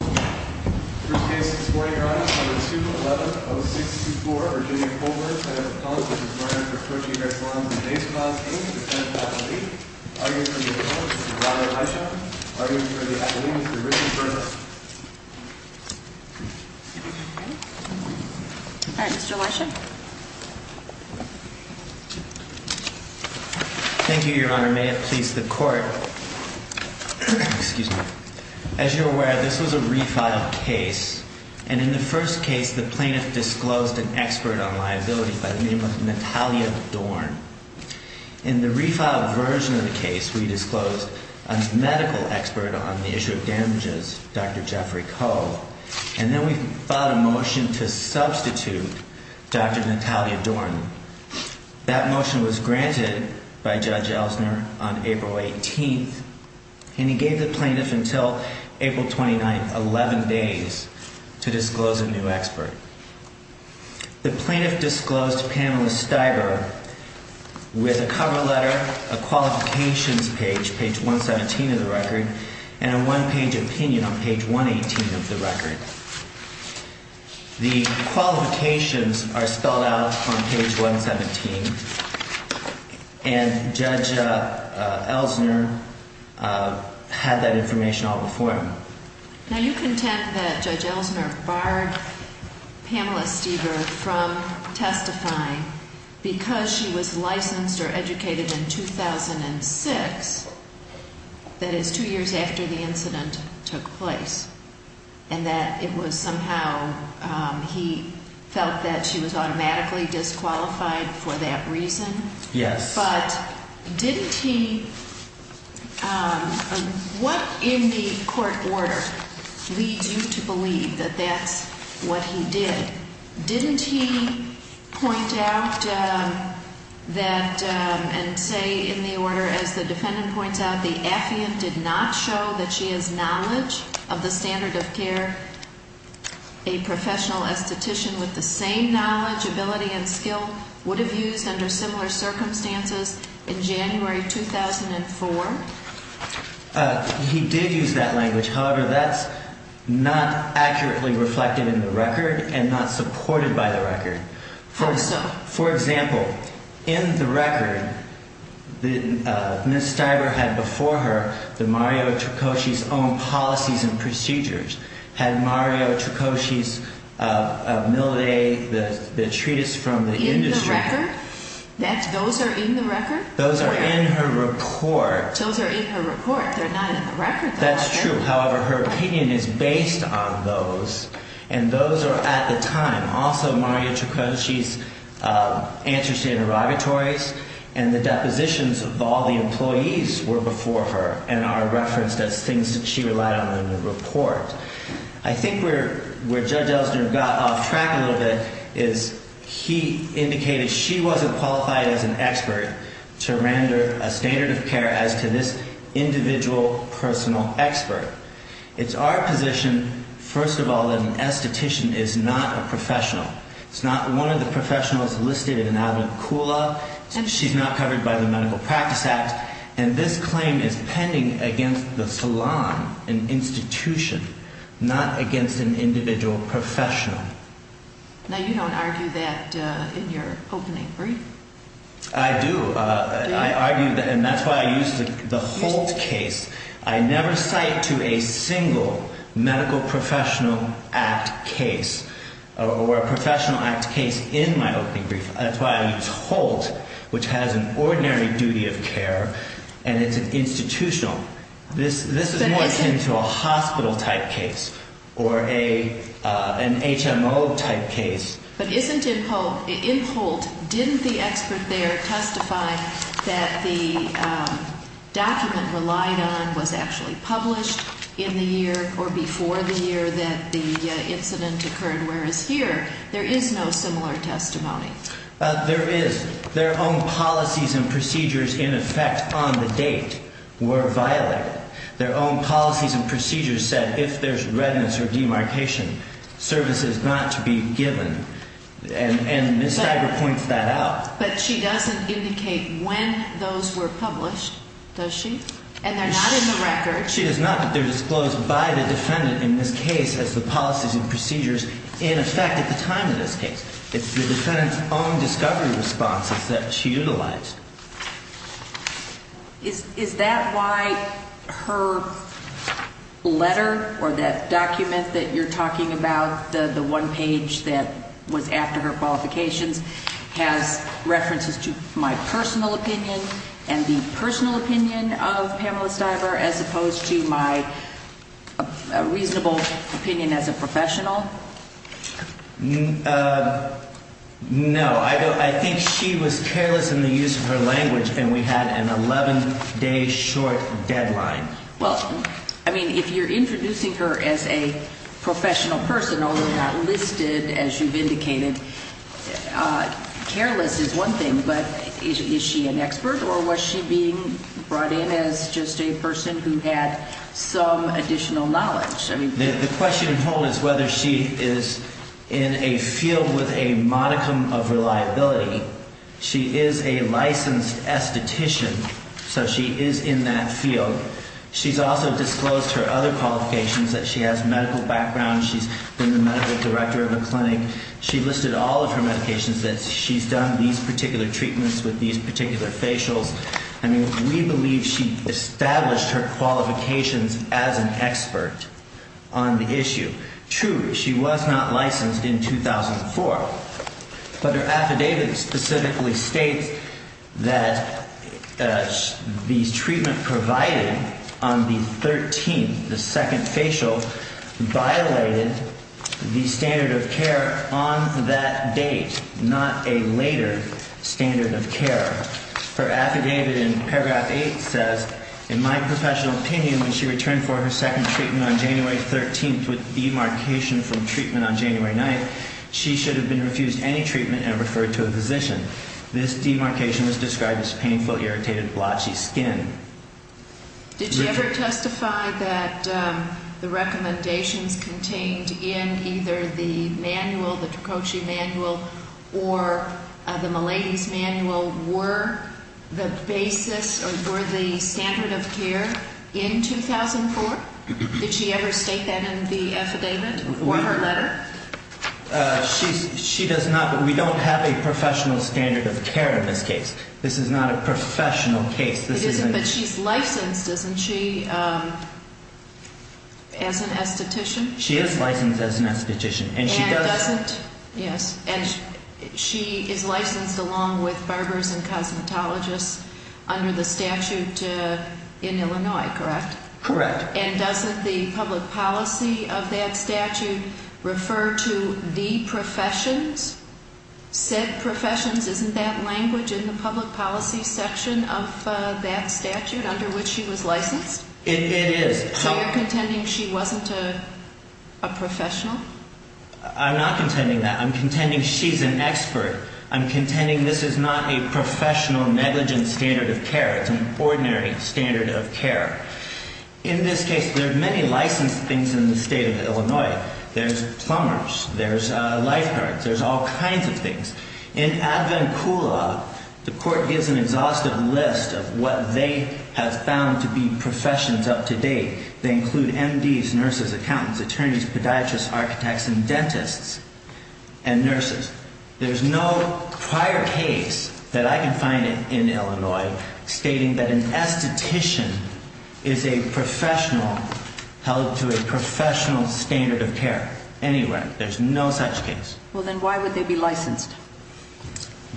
Case No. 2110624 Virginia Colburn v. Mario Tricoci Hair Salons & Day Spas, a.k.a. the 10th athlete, arguing for the athlete, Mr. Robert Elisha, arguing for the athlete, Mr. Richard Burr. All right, Mr. Elisha. Thank you, Your Honor. May it please the Court, as you're aware, this was a refiled case, and in the first case, the plaintiff disclosed an expert on liability by the name of Natalia Dorn. In the refiled version of the case, we disclosed a medical expert on the issue of damages, Dr. Jeffrey Coe, and then we filed a motion to substitute Dr. Natalia Dorn. That motion was granted by Judge Ellsner on April 18th, and he gave the plaintiff until April 29th, 11 days, to disclose a new expert. The plaintiff disclosed Pamela Stiver with a cover letter, a qualifications page, page 117 of the record, and a one-page opinion on page 118 of the record. The qualifications are spelled out on page 117, and Judge Ellsner had that information all before him. Now, you contend that Judge Ellsner barred Pamela Stiver from testifying because she was licensed or educated in 2006, that is, two years after the incident took place, and that it was somehow he felt that she was automatically disqualified for that reason? Yes. But didn't he, what in the court order leads you to believe that that's what he did? Didn't he point out that and say in the order, as the defendant points out, the affiant did not show that she has knowledge of the standard of care a professional esthetician with the same knowledge, ability, and skill would have used under similar circumstances in January 2004? He did use that language. However, that's not accurately reflected in the record and not supported by the record. How so? For example, in the record, Ms. Stiver had before her the Mario Tricosci's own policies and procedures, had Mario Tricosci's Mille Day, the treatise from the industry. Those are in the record? Those are in her report. Those are in her report. They're not in the record, though. That's true. However, her opinion is based on those, and those are at the time. Also, Mario Tricosci's answers to interrogatories and the depositions of all the employees were before her and are referenced as things that she relied on in the report. I think where Judge Ellsner got off track a little bit is he indicated she wasn't qualified as an expert to render a standard of care as to this individual, personal expert. It's our position, first of all, that an esthetician is not a professional. It's not one of the professionals listed in the Abinant Cool Law. She's not covered by the Medical Practice Act. And this claim is pending against the salon, an institution, not against an individual professional. Now, you don't argue that in your opening brief? I do. I argue that, and that's why I use the Holt case. I never cite to a single Medical Professional Act case or a Professional Act case in my opening brief. That's why I use Holt, which has an ordinary duty of care, and it's an institutional. This is more akin to a hospital-type case or an HMO-type case. But isn't it Holt? In Holt, didn't the expert there testify that the document relied on was actually published in the year or before the year that the incident occurred? Whereas here, there is no similar testimony. There is. Their own policies and procedures, in effect, on the date were violated. Their own policies and procedures said, if there's redness or demarcation, services not to be given. And Ms. Stiger points that out. But she doesn't indicate when those were published, does she? And they're not in the record. She does not, but they're disclosed by the defendant in this case as the policies and procedures in effect at the time of this case. It's the defendant's own discovery responses that she utilized. Is that why her letter or that document that you're talking about, the one page that was after her qualifications, has references to my personal opinion and the personal opinion of Pamela Stiger as opposed to my reasonable opinion as a professional? No. I think she was careless in the use of her language, and we had an 11-day short deadline. Well, I mean, if you're introducing her as a professional person, although not listed, as you've indicated, careless is one thing, but is she an expert, or was she being brought in as just a person who had some additional knowledge? The question in whole is whether she is in a field with a modicum of reliability. She is a licensed esthetician, so she is in that field. She's also disclosed her other qualifications, that she has medical background, she's been the medical director of a clinic. She listed all of her medications, that she's done these particular treatments with these particular facials. I mean, we believe she established her qualifications as an expert on the issue. True, she was not licensed in 2004, but her affidavit specifically states that the treatment provided on the 13th, the second facial, violated the standard of care on that date, not a later standard of care. Her affidavit in paragraph 8 says, in my professional opinion, when she returned for her second treatment on January 13th with demarcation from treatment on January 9th, she should have been refused any treatment and referred to a physician. This demarcation was described as painful, irritated, blotchy skin. Did she ever testify that the recommendations contained in either the manual, the Trococci manual, or the Milady's manual were the basis or were the standard of care in 2004? Did she ever state that in the affidavit or her letter? She does not, but we don't have a professional standard of care in this case. This is not a professional case. It isn't, but she's licensed, isn't she, as an esthetician? She is licensed as an esthetician. And doesn't, yes, she is licensed along with barbers and cosmetologists under the statute in Illinois, correct? Correct. And doesn't the public policy of that statute refer to the professions, said professions? Isn't that language in the public policy section of that statute under which she was licensed? It is. So you're contending she wasn't a professional? I'm not contending that. I'm contending she's an expert. I'm contending this is not a professional negligent standard of care. It's an ordinary standard of care. In this case, there are many licensed things in the state of Illinois. There's plumbers. There's lifeguards. There's all kinds of things. In Advencula, the court gives an exhaustive list of what they have found to be professions up to date. They include MDs, nurses, accountants, attorneys, podiatrists, architects, and dentists and nurses. There's no prior case that I can find in Illinois stating that an esthetician is a professional held to a professional standard of care. Anywhere. There's no such case. Well, then why would they be licensed?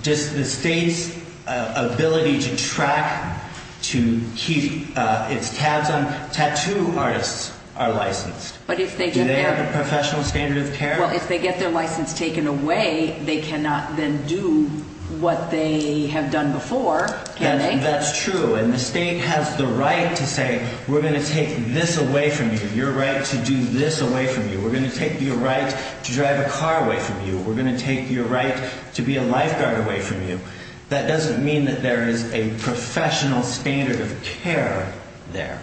Just the state's ability to track to keep its tabs on tattoo artists are licensed. Do they have a professional standard of care? Well, if they get their license taken away, they cannot then do what they have done before, can they? That's true. And the state has the right to say, we're going to take this away from you. You're right to do this away from you. We're going to take your right to drive a car away from you. We're going to take your right to be a lifeguard away from you. That doesn't mean that there is a professional standard of care there.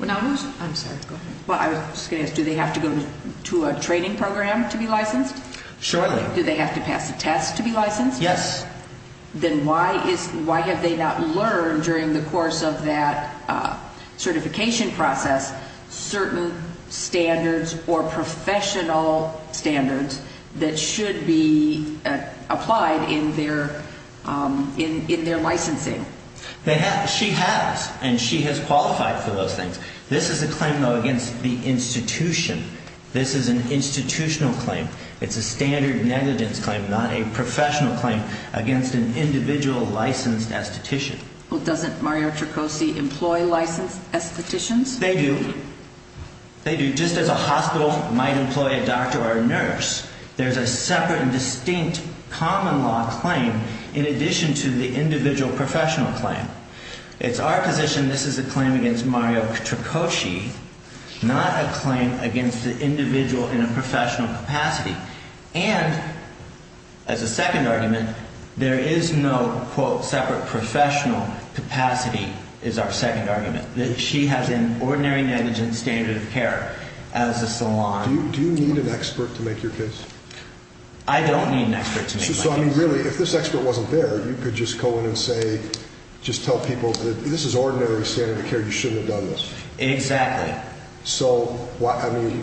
I'm sorry. Go ahead. Well, I was just going to ask, do they have to go to a training program to be licensed? Surely. Do they have to pass a test to be licensed? Yes. Then why have they not learned during the course of that certification process certain standards or professional standards that should be applied in their licensing? She has, and she has qualified for those things. This is a claim, though, against the institution. This is an institutional claim. It's a standard negligence claim, not a professional claim against an individual licensed esthetician. Well, doesn't Mario Tricosi employ licensed estheticians? They do. They do. Just as a hospital might employ a doctor or a nurse. There's a separate and distinct common law claim in addition to the individual professional claim. It's our position this is a claim against Mario Tricosi, not a claim against an individual in a professional capacity. And as a second argument, there is no, quote, separate professional capacity is our second argument. She has an ordinary negligence standard of care as a salon. Do you need an expert to make your case? So, I mean, really, if this expert wasn't there, you could just go in and say, just tell people this is ordinary standard of care. You shouldn't have done this. Exactly. So, I mean.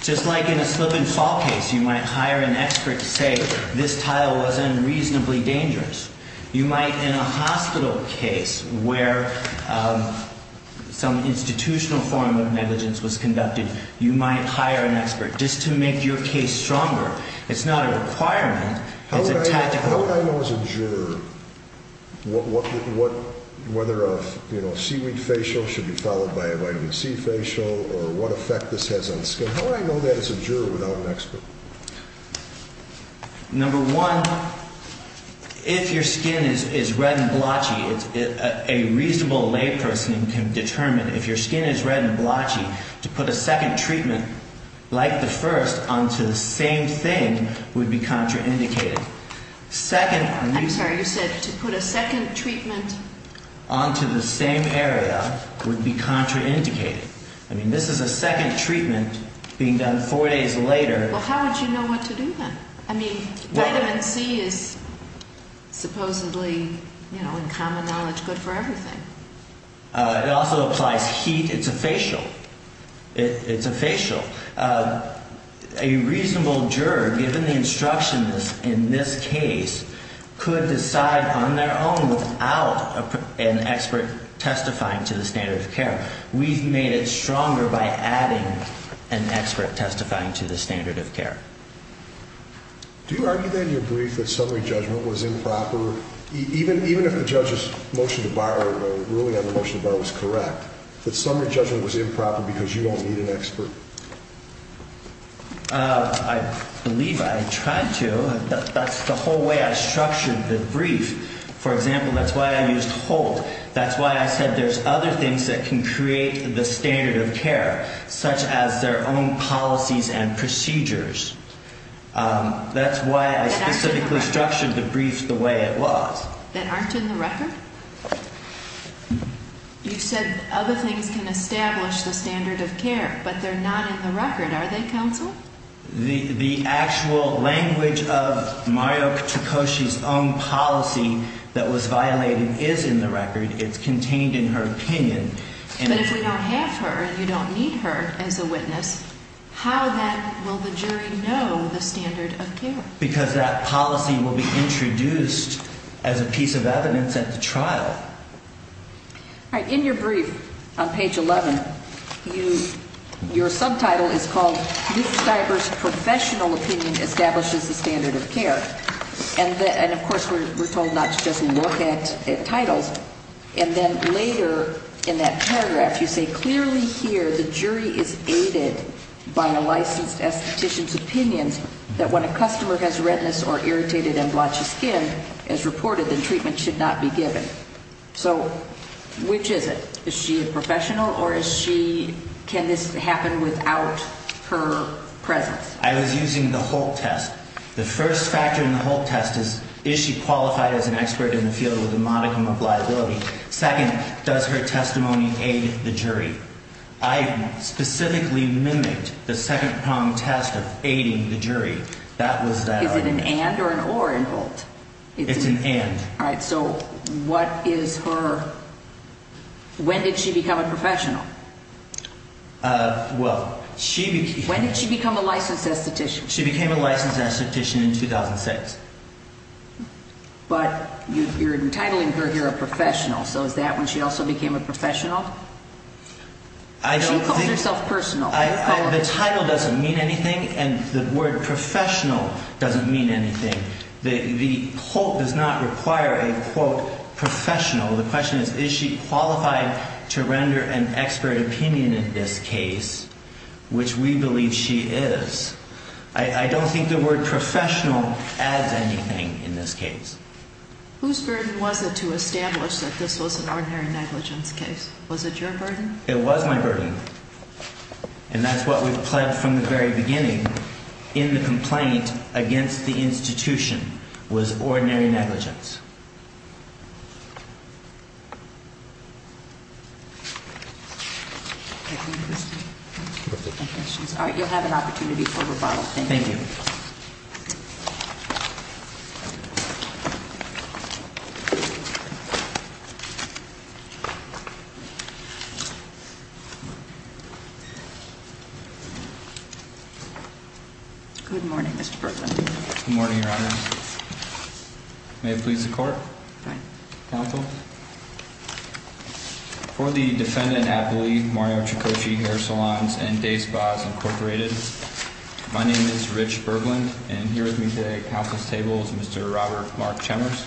Just like in a slip and fall case, you might hire an expert to say this tile wasn't reasonably dangerous. You might in a hospital case where some institutional form of negligence was conducted, you might hire an expert just to make your case stronger. It's not a requirement. How would I know as a juror whether a seaweed facial should be followed by a vitamin C facial or what effect this has on skin? How would I know that as a juror without an expert? Number one, if your skin is red and blotchy, a reasonable layperson can determine if your skin is red and blotchy, to put a second treatment like the first onto the same thing would be contraindicated. I'm sorry. You said to put a second treatment onto the same area would be contraindicated. I mean, this is a second treatment being done four days later. Well, how would you know what to do then? I mean, vitamin C is supposedly, you know, in common knowledge good for everything. It also applies heat. It's a facial. It's a facial. A reasonable juror, given the instructions in this case, could decide on their own without an expert testifying to the standard of care. We've made it stronger by adding an expert testifying to the standard of care. Do you argue that in your brief that summary judgment was improper, even if the judge's motion to borrow, ruling on the motion to borrow, was correct, that summary judgment was improper because you don't need an expert? I believe I tried to. That's the whole way I structured the brief. For example, that's why I used hold. That's why I said there's other things that can create the standard of care, such as their own policies and procedures. That's why I specifically structured the brief the way it was. That aren't in the record? You said other things can establish the standard of care, but they're not in the record, are they, counsel? The actual language of Mario Tukoshi's own policy that was violated is in the record. It's contained in her opinion. But if we don't have her and you don't need her as a witness, how then will the jury know the standard of care? Because that policy will be introduced as a piece of evidence at the trial. All right. In your brief on page 11, your subtitle is called, Luke Stiver's Professional Opinion Establishes the Standard of Care. And, of course, we're told not to just look at titles. And then later in that paragraph, you say, Clearly here the jury is aided by a licensed esthetician's opinions that when a customer has redness or irritated and blotchy skin, it's reported that treatment should not be given. So which is it? Is she a professional or can this happen without her presence? I was using the Holt test. The first factor in the Holt test is, is she qualified as an expert in the field with a modicum of liability? Second, does her testimony aid the jury? I specifically mimicked the second-prong test of aiding the jury. Is it an and or an or in Holt? It's an and. All right. So what is her ñ when did she become a professional? Well, she became ñ When did she become a licensed esthetician? She became a licensed esthetician in 2006. But you're entitling her here a professional. So is that when she also became a professional? She calls herself personal. The title doesn't mean anything, and the word professional doesn't mean anything. The Holt does not require a, quote, professional. The question is, is she qualified to render an expert opinion in this case, which we believe she is. I don't think the word professional adds anything in this case. Whose burden was it to establish that this was an ordinary negligence case? Was it your burden? It was my burden. And that's what we've pledged from the very beginning in the complaint against the institution was ordinary negligence. All right. You'll have an opportunity for rebuttal. Thank you. Thank you. Good morning, Mr. Berglund. Good morning, Your Honor. May it please the Court? Fine. Counsel? For the defendant at belief, Mario Tricocci, Hair Salons and Day Spas, Incorporated, my name is Rich Berglund, and here with me today at counsel's table is Mr. Robert Mark Chemers.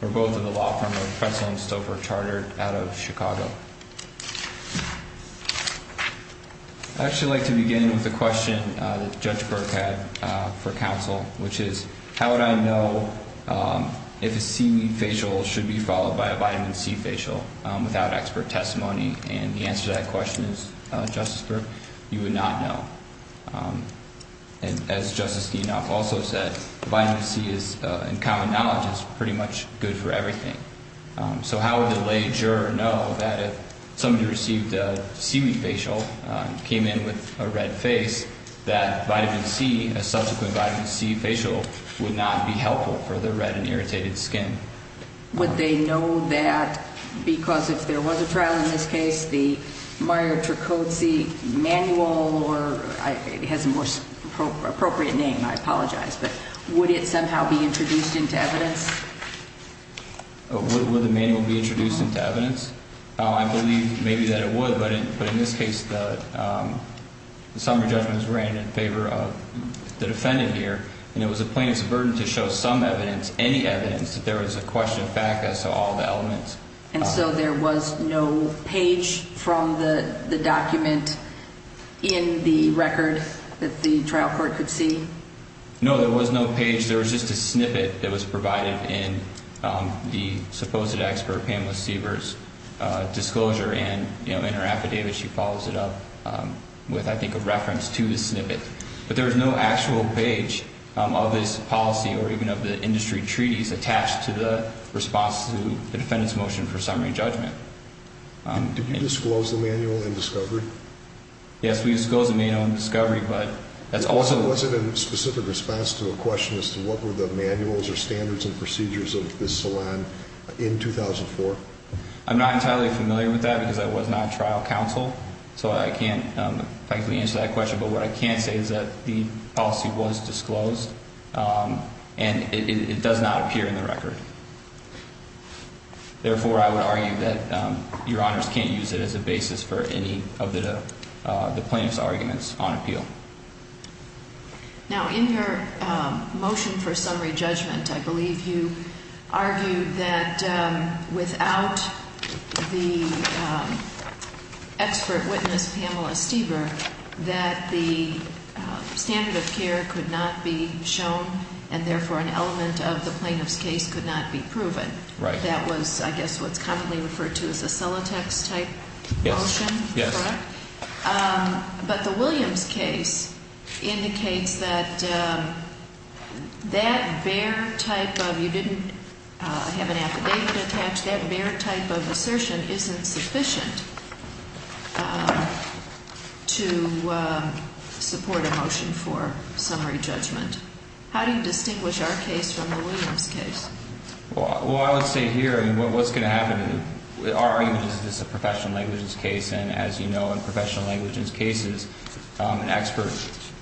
We're both of the law firm of Pretzel and Stouffer Chartered out of Chicago. I'd actually like to begin with a question that Judge Burke had for counsel, which is, how would I know if a C facial should be followed by a vitamin C facial without expert testimony? And the answer to that question is, Justice Burke, you would not know. And as Justice Dinoff also said, vitamin C is, in common knowledge, is pretty much good for everything. So how would the lay juror know that if somebody received a seaweed facial, came in with a red face, that vitamin C, a subsequent vitamin C facial, would not be helpful for their red and irritated skin? Would they know that because if there was a trial in this case, the Mario Tricocci manual, or it has a more appropriate name, I apologize, but would it somehow be introduced into evidence? Would the manual be introduced into evidence? I believe maybe that it would, but in this case, the summary judgment is ran in favor of the defendant here, and it was the plaintiff's burden to show some evidence, any evidence, that there was a question of fact as to all the elements. And so there was no page from the document in the record that the trial court could see? No, there was no page. There was just a snippet that was provided in the supposed expert Pamela Seavers' disclosure, and in her affidavit she follows it up with, I think, a reference to the snippet. But there was no actual page of this policy or even of the industry treaties attached to the response to the defendant's motion for summary judgment. And did you disclose the manual in discovery? Yes, we disclosed the manual in discovery, but that's also... Was it in specific response to a question as to what were the manuals or standards and procedures of this salon in 2004? I'm not entirely familiar with that because I was not trial counsel, so I can't frankly answer that question, but what I can say is that the policy was disclosed and it does not appear in the record. Therefore, I would argue that Your Honors can't use it as a basis for any of the plaintiff's arguments on appeal. Now, in your motion for summary judgment, I believe you argued that without the expert witness, Pamela Seavers, that the standard of care could not be shown and, therefore, an element of the plaintiff's case could not be proven. Right. That was, I guess, what's commonly referred to as a Celotex-type motion, correct? Yes, yes. But the Williams case indicates that that bare type of... You didn't have an affidavit attached. That bare type of assertion isn't sufficient to support a motion for summary judgment. How do you distinguish our case from the Williams case? Well, I would say here what's going to happen... Our argument is that this is a professional negligence case and, as you know, in professional negligence cases, an expert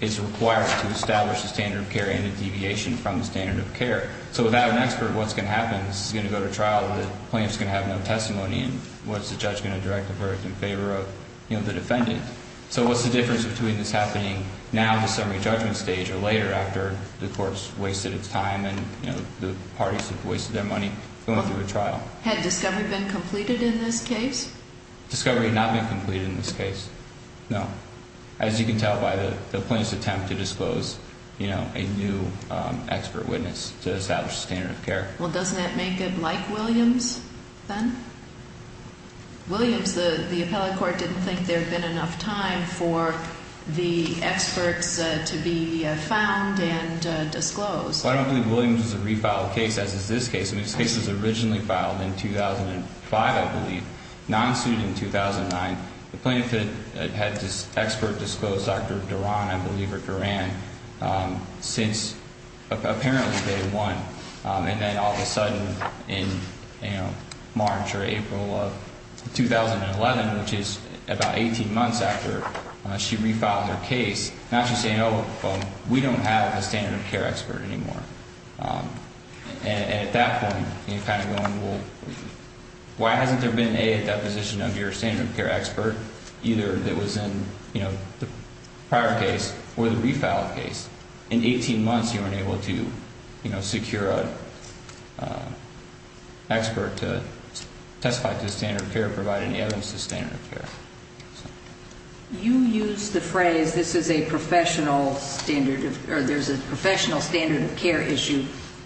is required to establish a standard of care and a deviation from the standard of care. So without an expert, what's going to happen? This is going to go to trial, the plaintiff's going to have no testimony, and what's the judge going to direct the verdict in favor of the defendant? So what's the difference between this happening now at the summary judgment stage or later after the court's wasted its time and the parties have wasted their money going through a trial? Had discovery been completed in this case? Discovery had not been completed in this case, no. As you can tell by the plaintiff's attempt to disclose a new expert witness to establish a standard of care. Well, doesn't that make it like Williams then? Williams, the appellate court didn't think there had been enough time for the experts to be found and disclosed. Well, I don't believe Williams was a refiled case, as is this case. And this case was originally filed in 2005, I believe, non-suit in 2009. The plaintiff had this expert disclosed, Dr. Duran, I believe, or Duran, since apparently day one. And then all of a sudden in March or April of 2011, which is about 18 months after she refiled her case, now she's saying, oh, we don't have a standard of care expert anymore. And at that point, you're kind of going, well, why hasn't there been a deposition of your standard of care expert, either that was in the prior case or the refiled case? In 18 months you weren't able to secure an expert to testify to the standard of care or provide any evidence to the standard of care. You use the phrase, this is a professional standard of care, or there's a professional standard of care issue,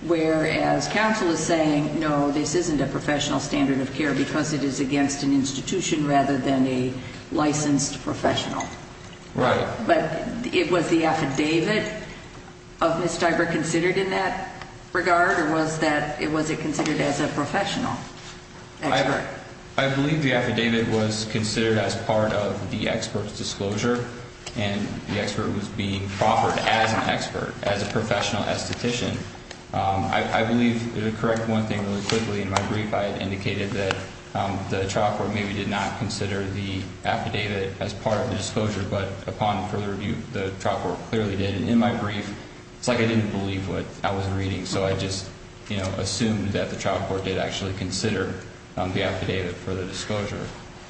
whereas counsel is saying, no, this isn't a professional standard of care because it is against an institution rather than a licensed professional. Right. But it was the affidavit of Ms. Diver considered in that regard, or was it considered as a professional expert? I believe the affidavit was considered as part of the expert's disclosure, and the expert was being proffered as an expert, as a professional esthetician. I believe, to correct one thing really quickly, in my brief I had indicated that the trial court maybe did not consider the affidavit as part of the disclosure, but upon further review, the trial court clearly did. In my brief, it's like I didn't believe what I was reading, so I just assumed that the trial court did actually consider the affidavit for the disclosure.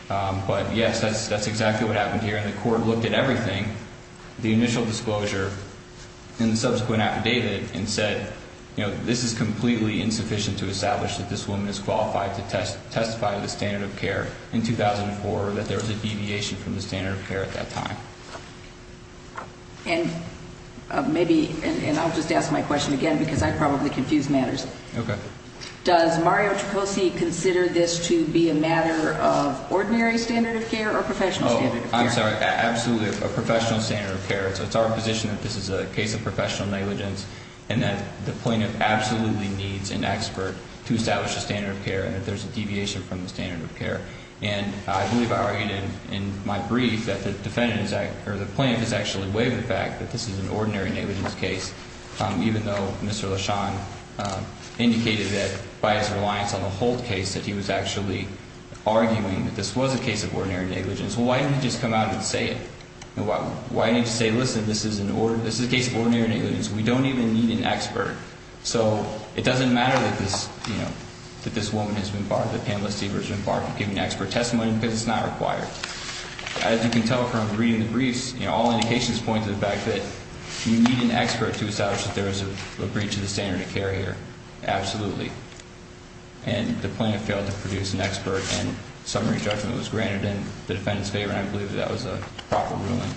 But, yes, that's exactly what happened here, and the court looked at everything, the initial disclosure and the subsequent affidavit, and said, you know, this is completely insufficient to establish that this woman is qualified to testify to the standard of care in 2004, or that there was a deviation from the standard of care at that time. And maybe, and I'll just ask my question again, because I probably confuse matters. Okay. Does Mario Tricosi consider this to be a matter of ordinary standard of care or professional standard of care? Oh, I'm sorry, absolutely a professional standard of care. So it's our position that this is a case of professional negligence, and that the plaintiff absolutely needs an expert to establish a standard of care, and that there's a deviation from the standard of care. And I believe I argued in my brief that the plaintiff has actually waived the fact that this is an ordinary negligence case, even though Mr. LeSean indicated that by his reliance on the Holt case that he was actually arguing that this was a case of ordinary negligence. Well, why didn't he just come out and say it? Why didn't he just say, listen, this is a case of ordinary negligence. We don't even need an expert. So it doesn't matter that this woman has been barred, that Pamela Stever has been barred from giving expert testimony, because it's not required. As you can tell from reading the briefs, all indications point to the fact that you need an expert to establish that there is a breach of the standard of care here. Absolutely. And the plaintiff failed to produce an expert, and summary judgment was granted in the defendant's favor, and I believe that was a proper ruling.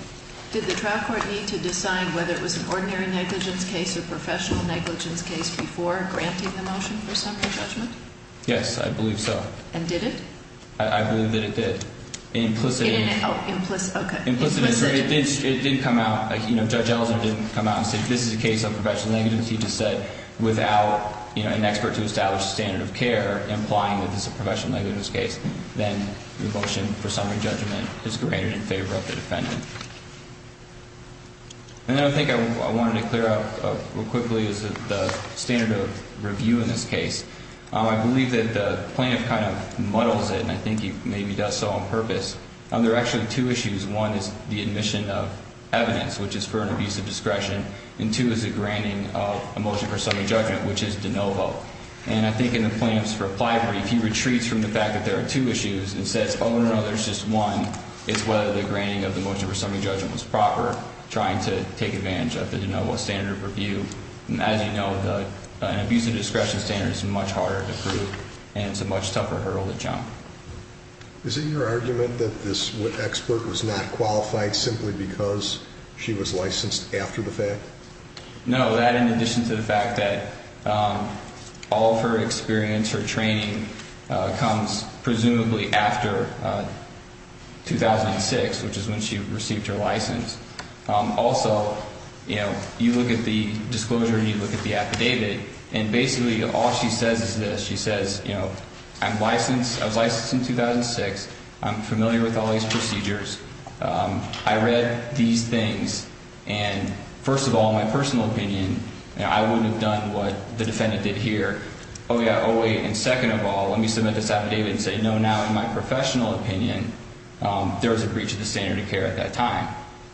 Did the trial court need to decide whether it was an ordinary negligence case or professional negligence case before granting the motion for summary judgment? Yes, I believe so. And did it? I believe that it did. Implicitly. Oh, implicit, okay. Implicitly. It didn't come out. Judge Ellison didn't come out and say, this is a case of professional negligence. He just said, without an expert to establish the standard of care, implying that this is a professional negligence case, then the motion for summary judgment is granted in favor of the defendant. And then I think I wanted to clear up real quickly the standard of review in this case. I believe that the plaintiff kind of muddles it, and I think he maybe does so on purpose. There are actually two issues. One is the admission of evidence, which is for an abusive discretion, and two is the granting of a motion for summary judgment, which is de novo. And I think in the plaintiff's reply brief, he retreats from the fact that there are two issues and says, oh, no, there's just one. It's whether the granting of the motion for summary judgment was proper, trying to take advantage of the de novo standard of review. And as you know, an abusive discretion standard is much harder to prove, and it's a much tougher hurdle to jump. Is it your argument that this expert was not qualified simply because she was licensed after the fact? No, that in addition to the fact that all of her experience, her training, comes presumably after 2006, which is when she received her license. Also, you look at the disclosure and you look at the affidavit, and basically all she says is this. She says, you know, I'm licensed. I was licensed in 2006. I'm familiar with all these procedures. I read these things, and first of all, my personal opinion, you know, I wouldn't have done what the defendant did here. Oh, yeah, oh, wait, and second of all, let me submit this affidavit and say, no, now in my professional opinion, there was a breach of the standard of care at that time.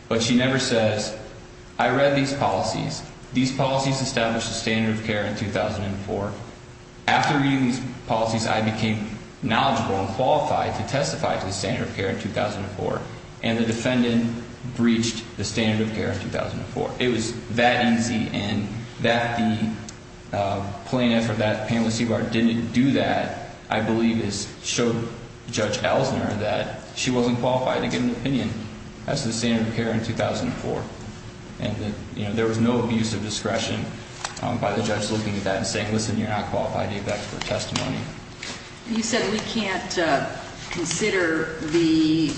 But she never says, I read these policies. These policies established the standard of care in 2004. After reading these policies, I became knowledgeable and qualified to testify to the standard of care in 2004, and the defendant breached the standard of care in 2004. It was that easy, and that the plaintiff or that panelist didn't do that, I believe, showed Judge Elsner that she wasn't qualified to get an opinion. That's the standard of care in 2004. And that, you know, there was no abuse of discretion by the judge looking at that and saying, listen, you're not qualified. You need that for testimony. You said we can't consider the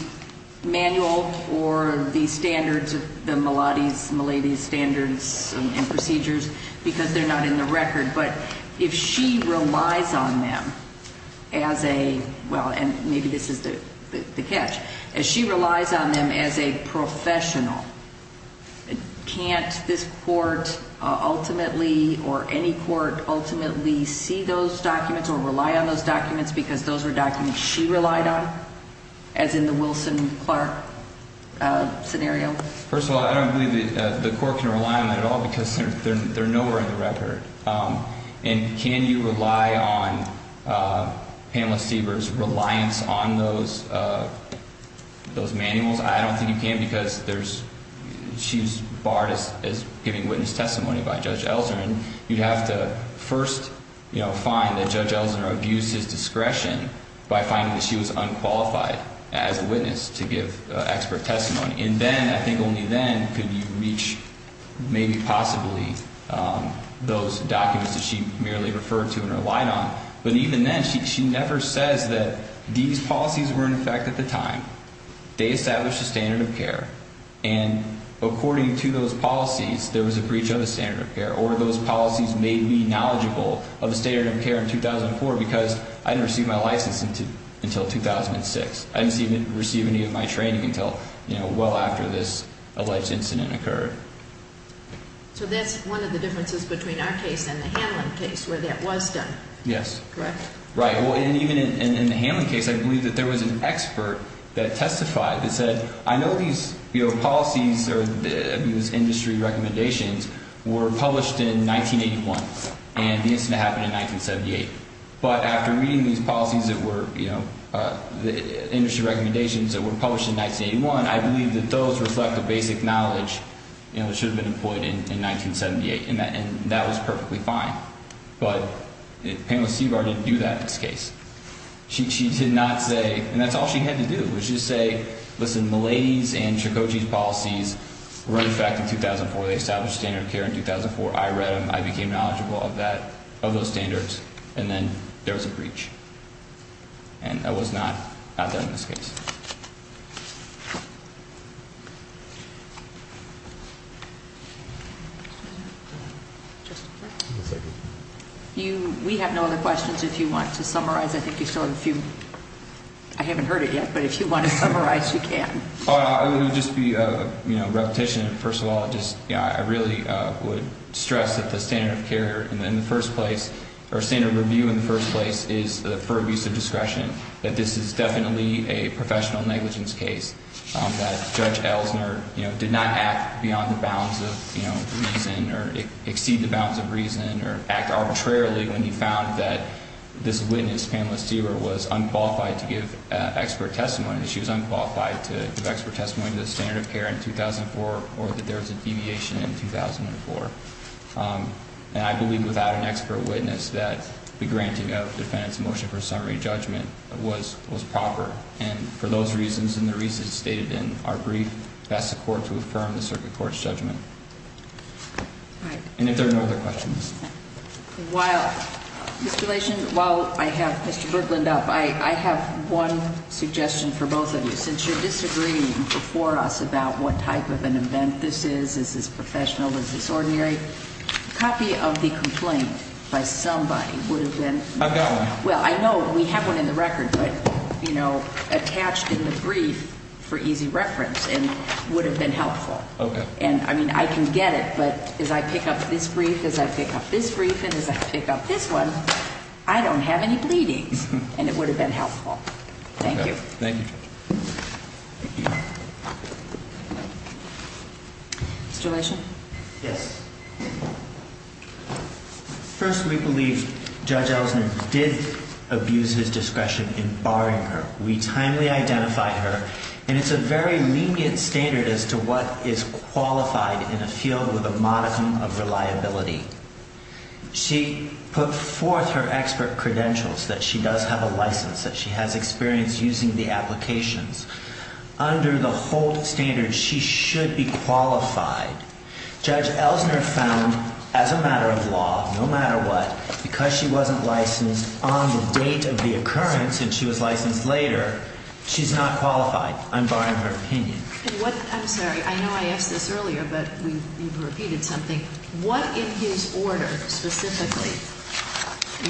manual or the standards of the Milady's standards and procedures because they're not in the record. But if she relies on them as a, well, and maybe this is the catch, if she relies on them as a professional, can't this court ultimately or any court ultimately see those documents or rely on those documents because those are documents she relied on, as in the Wilson-Clark scenario? First of all, I don't believe the court can rely on that at all because they're nowhere in the record. And can you rely on Pamela Stieber's reliance on those manuals? I don't think you can because there's – she's barred as giving witness testimony by Judge Elsner. And you'd have to first, you know, find that Judge Elsner abused his discretion by finding that she was unqualified as a witness to give expert testimony. And then, I think only then could you reach maybe possibly those documents that she merely referred to and relied on. But even then, she never says that these policies were in effect at the time. They established the standard of care. And according to those policies, there was a breach of the standard of care or those policies made me knowledgeable of the standard of care in 2004 because I didn't receive my license until 2006. I didn't receive any of my training until, you know, well after this alleged incident occurred. So that's one of the differences between our case and the Hanlon case where that was done. Yes. Correct? Right. Well, and even in the Hanlon case, I believe that there was an expert that testified that said, I know these, you know, policies or these industry recommendations were published in 1981 and the incident happened in 1978. But after reading these policies that were, you know, the industry recommendations that were published in 1981, I believe that those reflect the basic knowledge, you know, that should have been employed in 1978. And that was perfectly fine. But Panelist Seabard didn't do that in this case. She did not say, and that's all she had to do, was just say, listen, Malady's and Tricocci's policies were in effect in 2004. They established standard of care in 2004. I read them. I became knowledgeable of that, of those standards, and then there was a breach. And that was not done in this case. We have no other questions if you want to summarize. I think you still have a few. I haven't heard it yet, but if you want to summarize, you can. It would just be, you know, repetition. First of all, just, you know, I really would stress that the standard of care in the first place, or standard of review in the first place is for abuse of discretion, that this is definitely a professional negligence case, that Judge Ellsner, you know, did not act beyond the bounds of, you know, reason or exceed the bounds of reason or act arbitrarily when he found that this witness, Panelist Seabard, was unqualified to give expert testimony. She was unqualified to give expert testimony to the standard of care in 2004 or that there was a deviation in 2004. And I believe without an expert witness that the granting of defendant's motion for summary judgment was proper. And for those reasons and the reasons stated in our brief, that's the court to affirm the circuit court's judgment. And if there are no other questions. While, Mr. Glacian, while I have Mr. Brooklyn up, I have one suggestion for both of you. Since you're disagreeing before us about what type of an event this is, is this professional, is this ordinary, a copy of the complaint by somebody would have been. I've got one. Well, I know we have one in the record, but, you know, attached in the brief for easy reference and would have been helpful. Okay. And, I mean, I can get it, but as I pick up this brief, as I pick up this brief, and as I pick up this one, I don't have any bleedings. And it would have been helpful. Thank you. Thank you. Mr. Glacian? Yes. First, we believe Judge Ellison did abuse his discretion in barring her. We timely identify her. And it's a very lenient standard as to what is qualified in a field with a modicum of reliability. She put forth her expert credentials that she does have a license, that she has experience using the applications. Under the whole standard, she should be qualified. Judge Ellison found, as a matter of law, no matter what, because she wasn't licensed on the date of the occurrence, and she was licensed later, she's not qualified. I'm barring her opinion. I'm sorry. I know I asked this earlier, but you've repeated something. What in his order specifically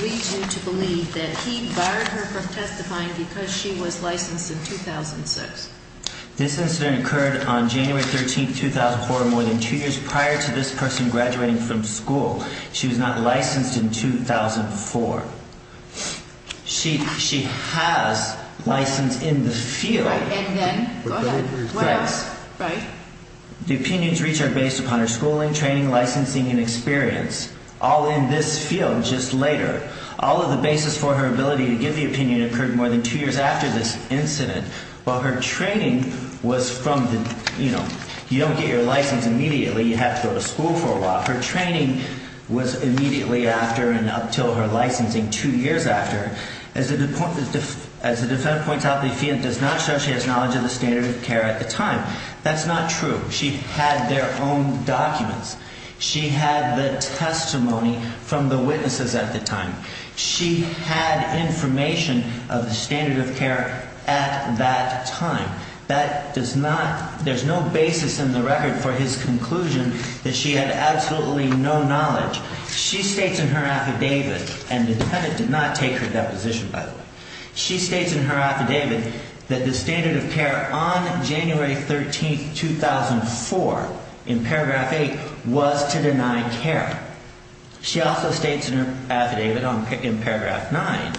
leads you to believe that he barred her from testifying because she was licensed in 2006? This incident occurred on January 13, 2004, more than two years prior to this person graduating from school. She was not licensed in 2004. She has license in the field. And then? Go ahead. What else? The opinions reached are based upon her schooling, training, licensing, and experience, all in this field, just later. All of the basis for her ability to give the opinion occurred more than two years after this incident. While her training was from the, you know, you don't get your license immediately. You have to go to school for a while. Her training was immediately after and up until her licensing, two years after. As the defendant points out, the defendant does not show she has knowledge of the standard of care at the time. That's not true. She had their own documents. She had the testimony from the witnesses at the time. She had information of the standard of care at that time. That does not, there's no basis in the record for his conclusion that she had absolutely no knowledge. She states in her affidavit, and the defendant did not take her deposition, by the way. She states in her affidavit that the standard of care on January 13, 2004, in paragraph 8, was to deny care. She also states in her affidavit in paragraph 9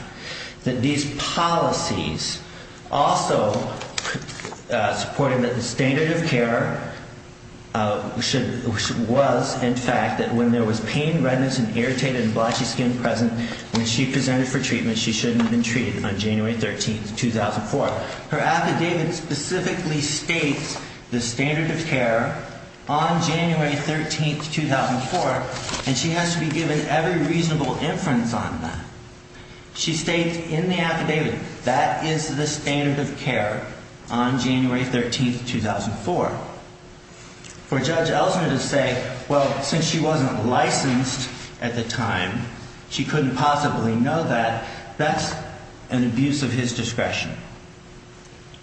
that these policies also supported that the standard of care was, in fact, that when there was pain, redness, and irritated and blotchy skin present when she presented for treatment, she shouldn't have been treated on January 13, 2004. Her affidavit specifically states the standard of care on January 13, 2004, and she has to be given every reasonable inference on that. She states in the affidavit that is the standard of care on January 13, 2004. For Judge Ellsner to say, well, since she wasn't licensed at the time, she couldn't possibly know that, that's an abuse of his discretion.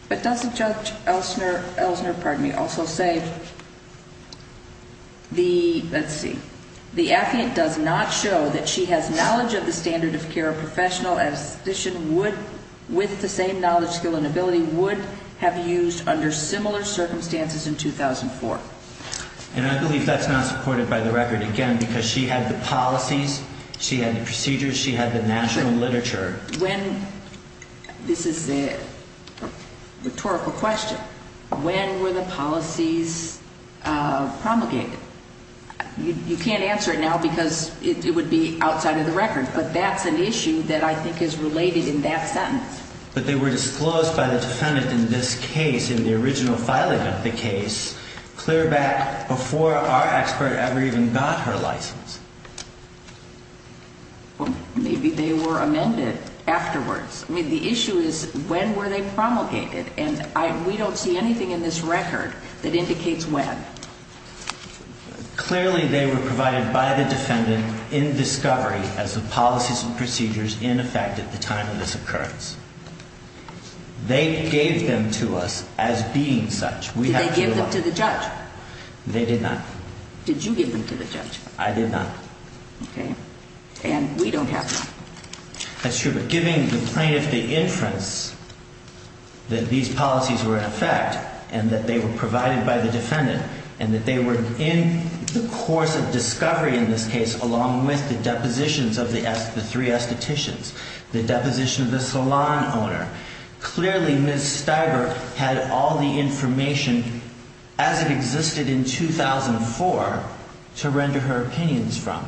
But doesn't Judge Ellsner, pardon me, also say, let's see, the affidavit does not show that she has knowledge of the standard of care a professional with the same knowledge, skill, and ability would have used under similar circumstances in 2004. And I believe that's not supported by the record, again, because she had the policies, she had the procedures, she had the national literature. When, this is a rhetorical question, when were the policies promulgated? You can't answer it now because it would be outside of the record, but that's an issue that I think is related in that sentence. But they were disclosed by the defendant in this case, in the original filing of the case, clear back before our expert ever even got her license. Well, maybe they were amended afterwards. I mean, the issue is, when were they promulgated? And we don't see anything in this record that indicates when. Clearly, they were provided by the defendant in discovery as the policies and procedures in effect at the time of this occurrence. They gave them to us as being such. Did they give them to the judge? They did not. Did you give them to the judge? I did not. And we don't have them. That's true, but giving the plaintiff the inference that these policies were in effect, and that they were provided by the defendant, and that they were in the course of discovery in this case, along with the depositions of the three estheticians, the deposition of the salon owner. Clearly, Ms. Stiver had all the information, as it existed in 2004, to render her opinions from.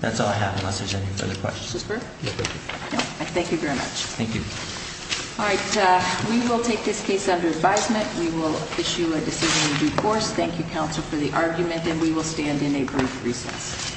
That's all I have, unless there's any further questions. Thank you very much. Thank you. All right, we will take this case under advisement. We will issue a decision in due course. Thank you, counsel, for the argument, and we will stand in a brief recess. Thank you.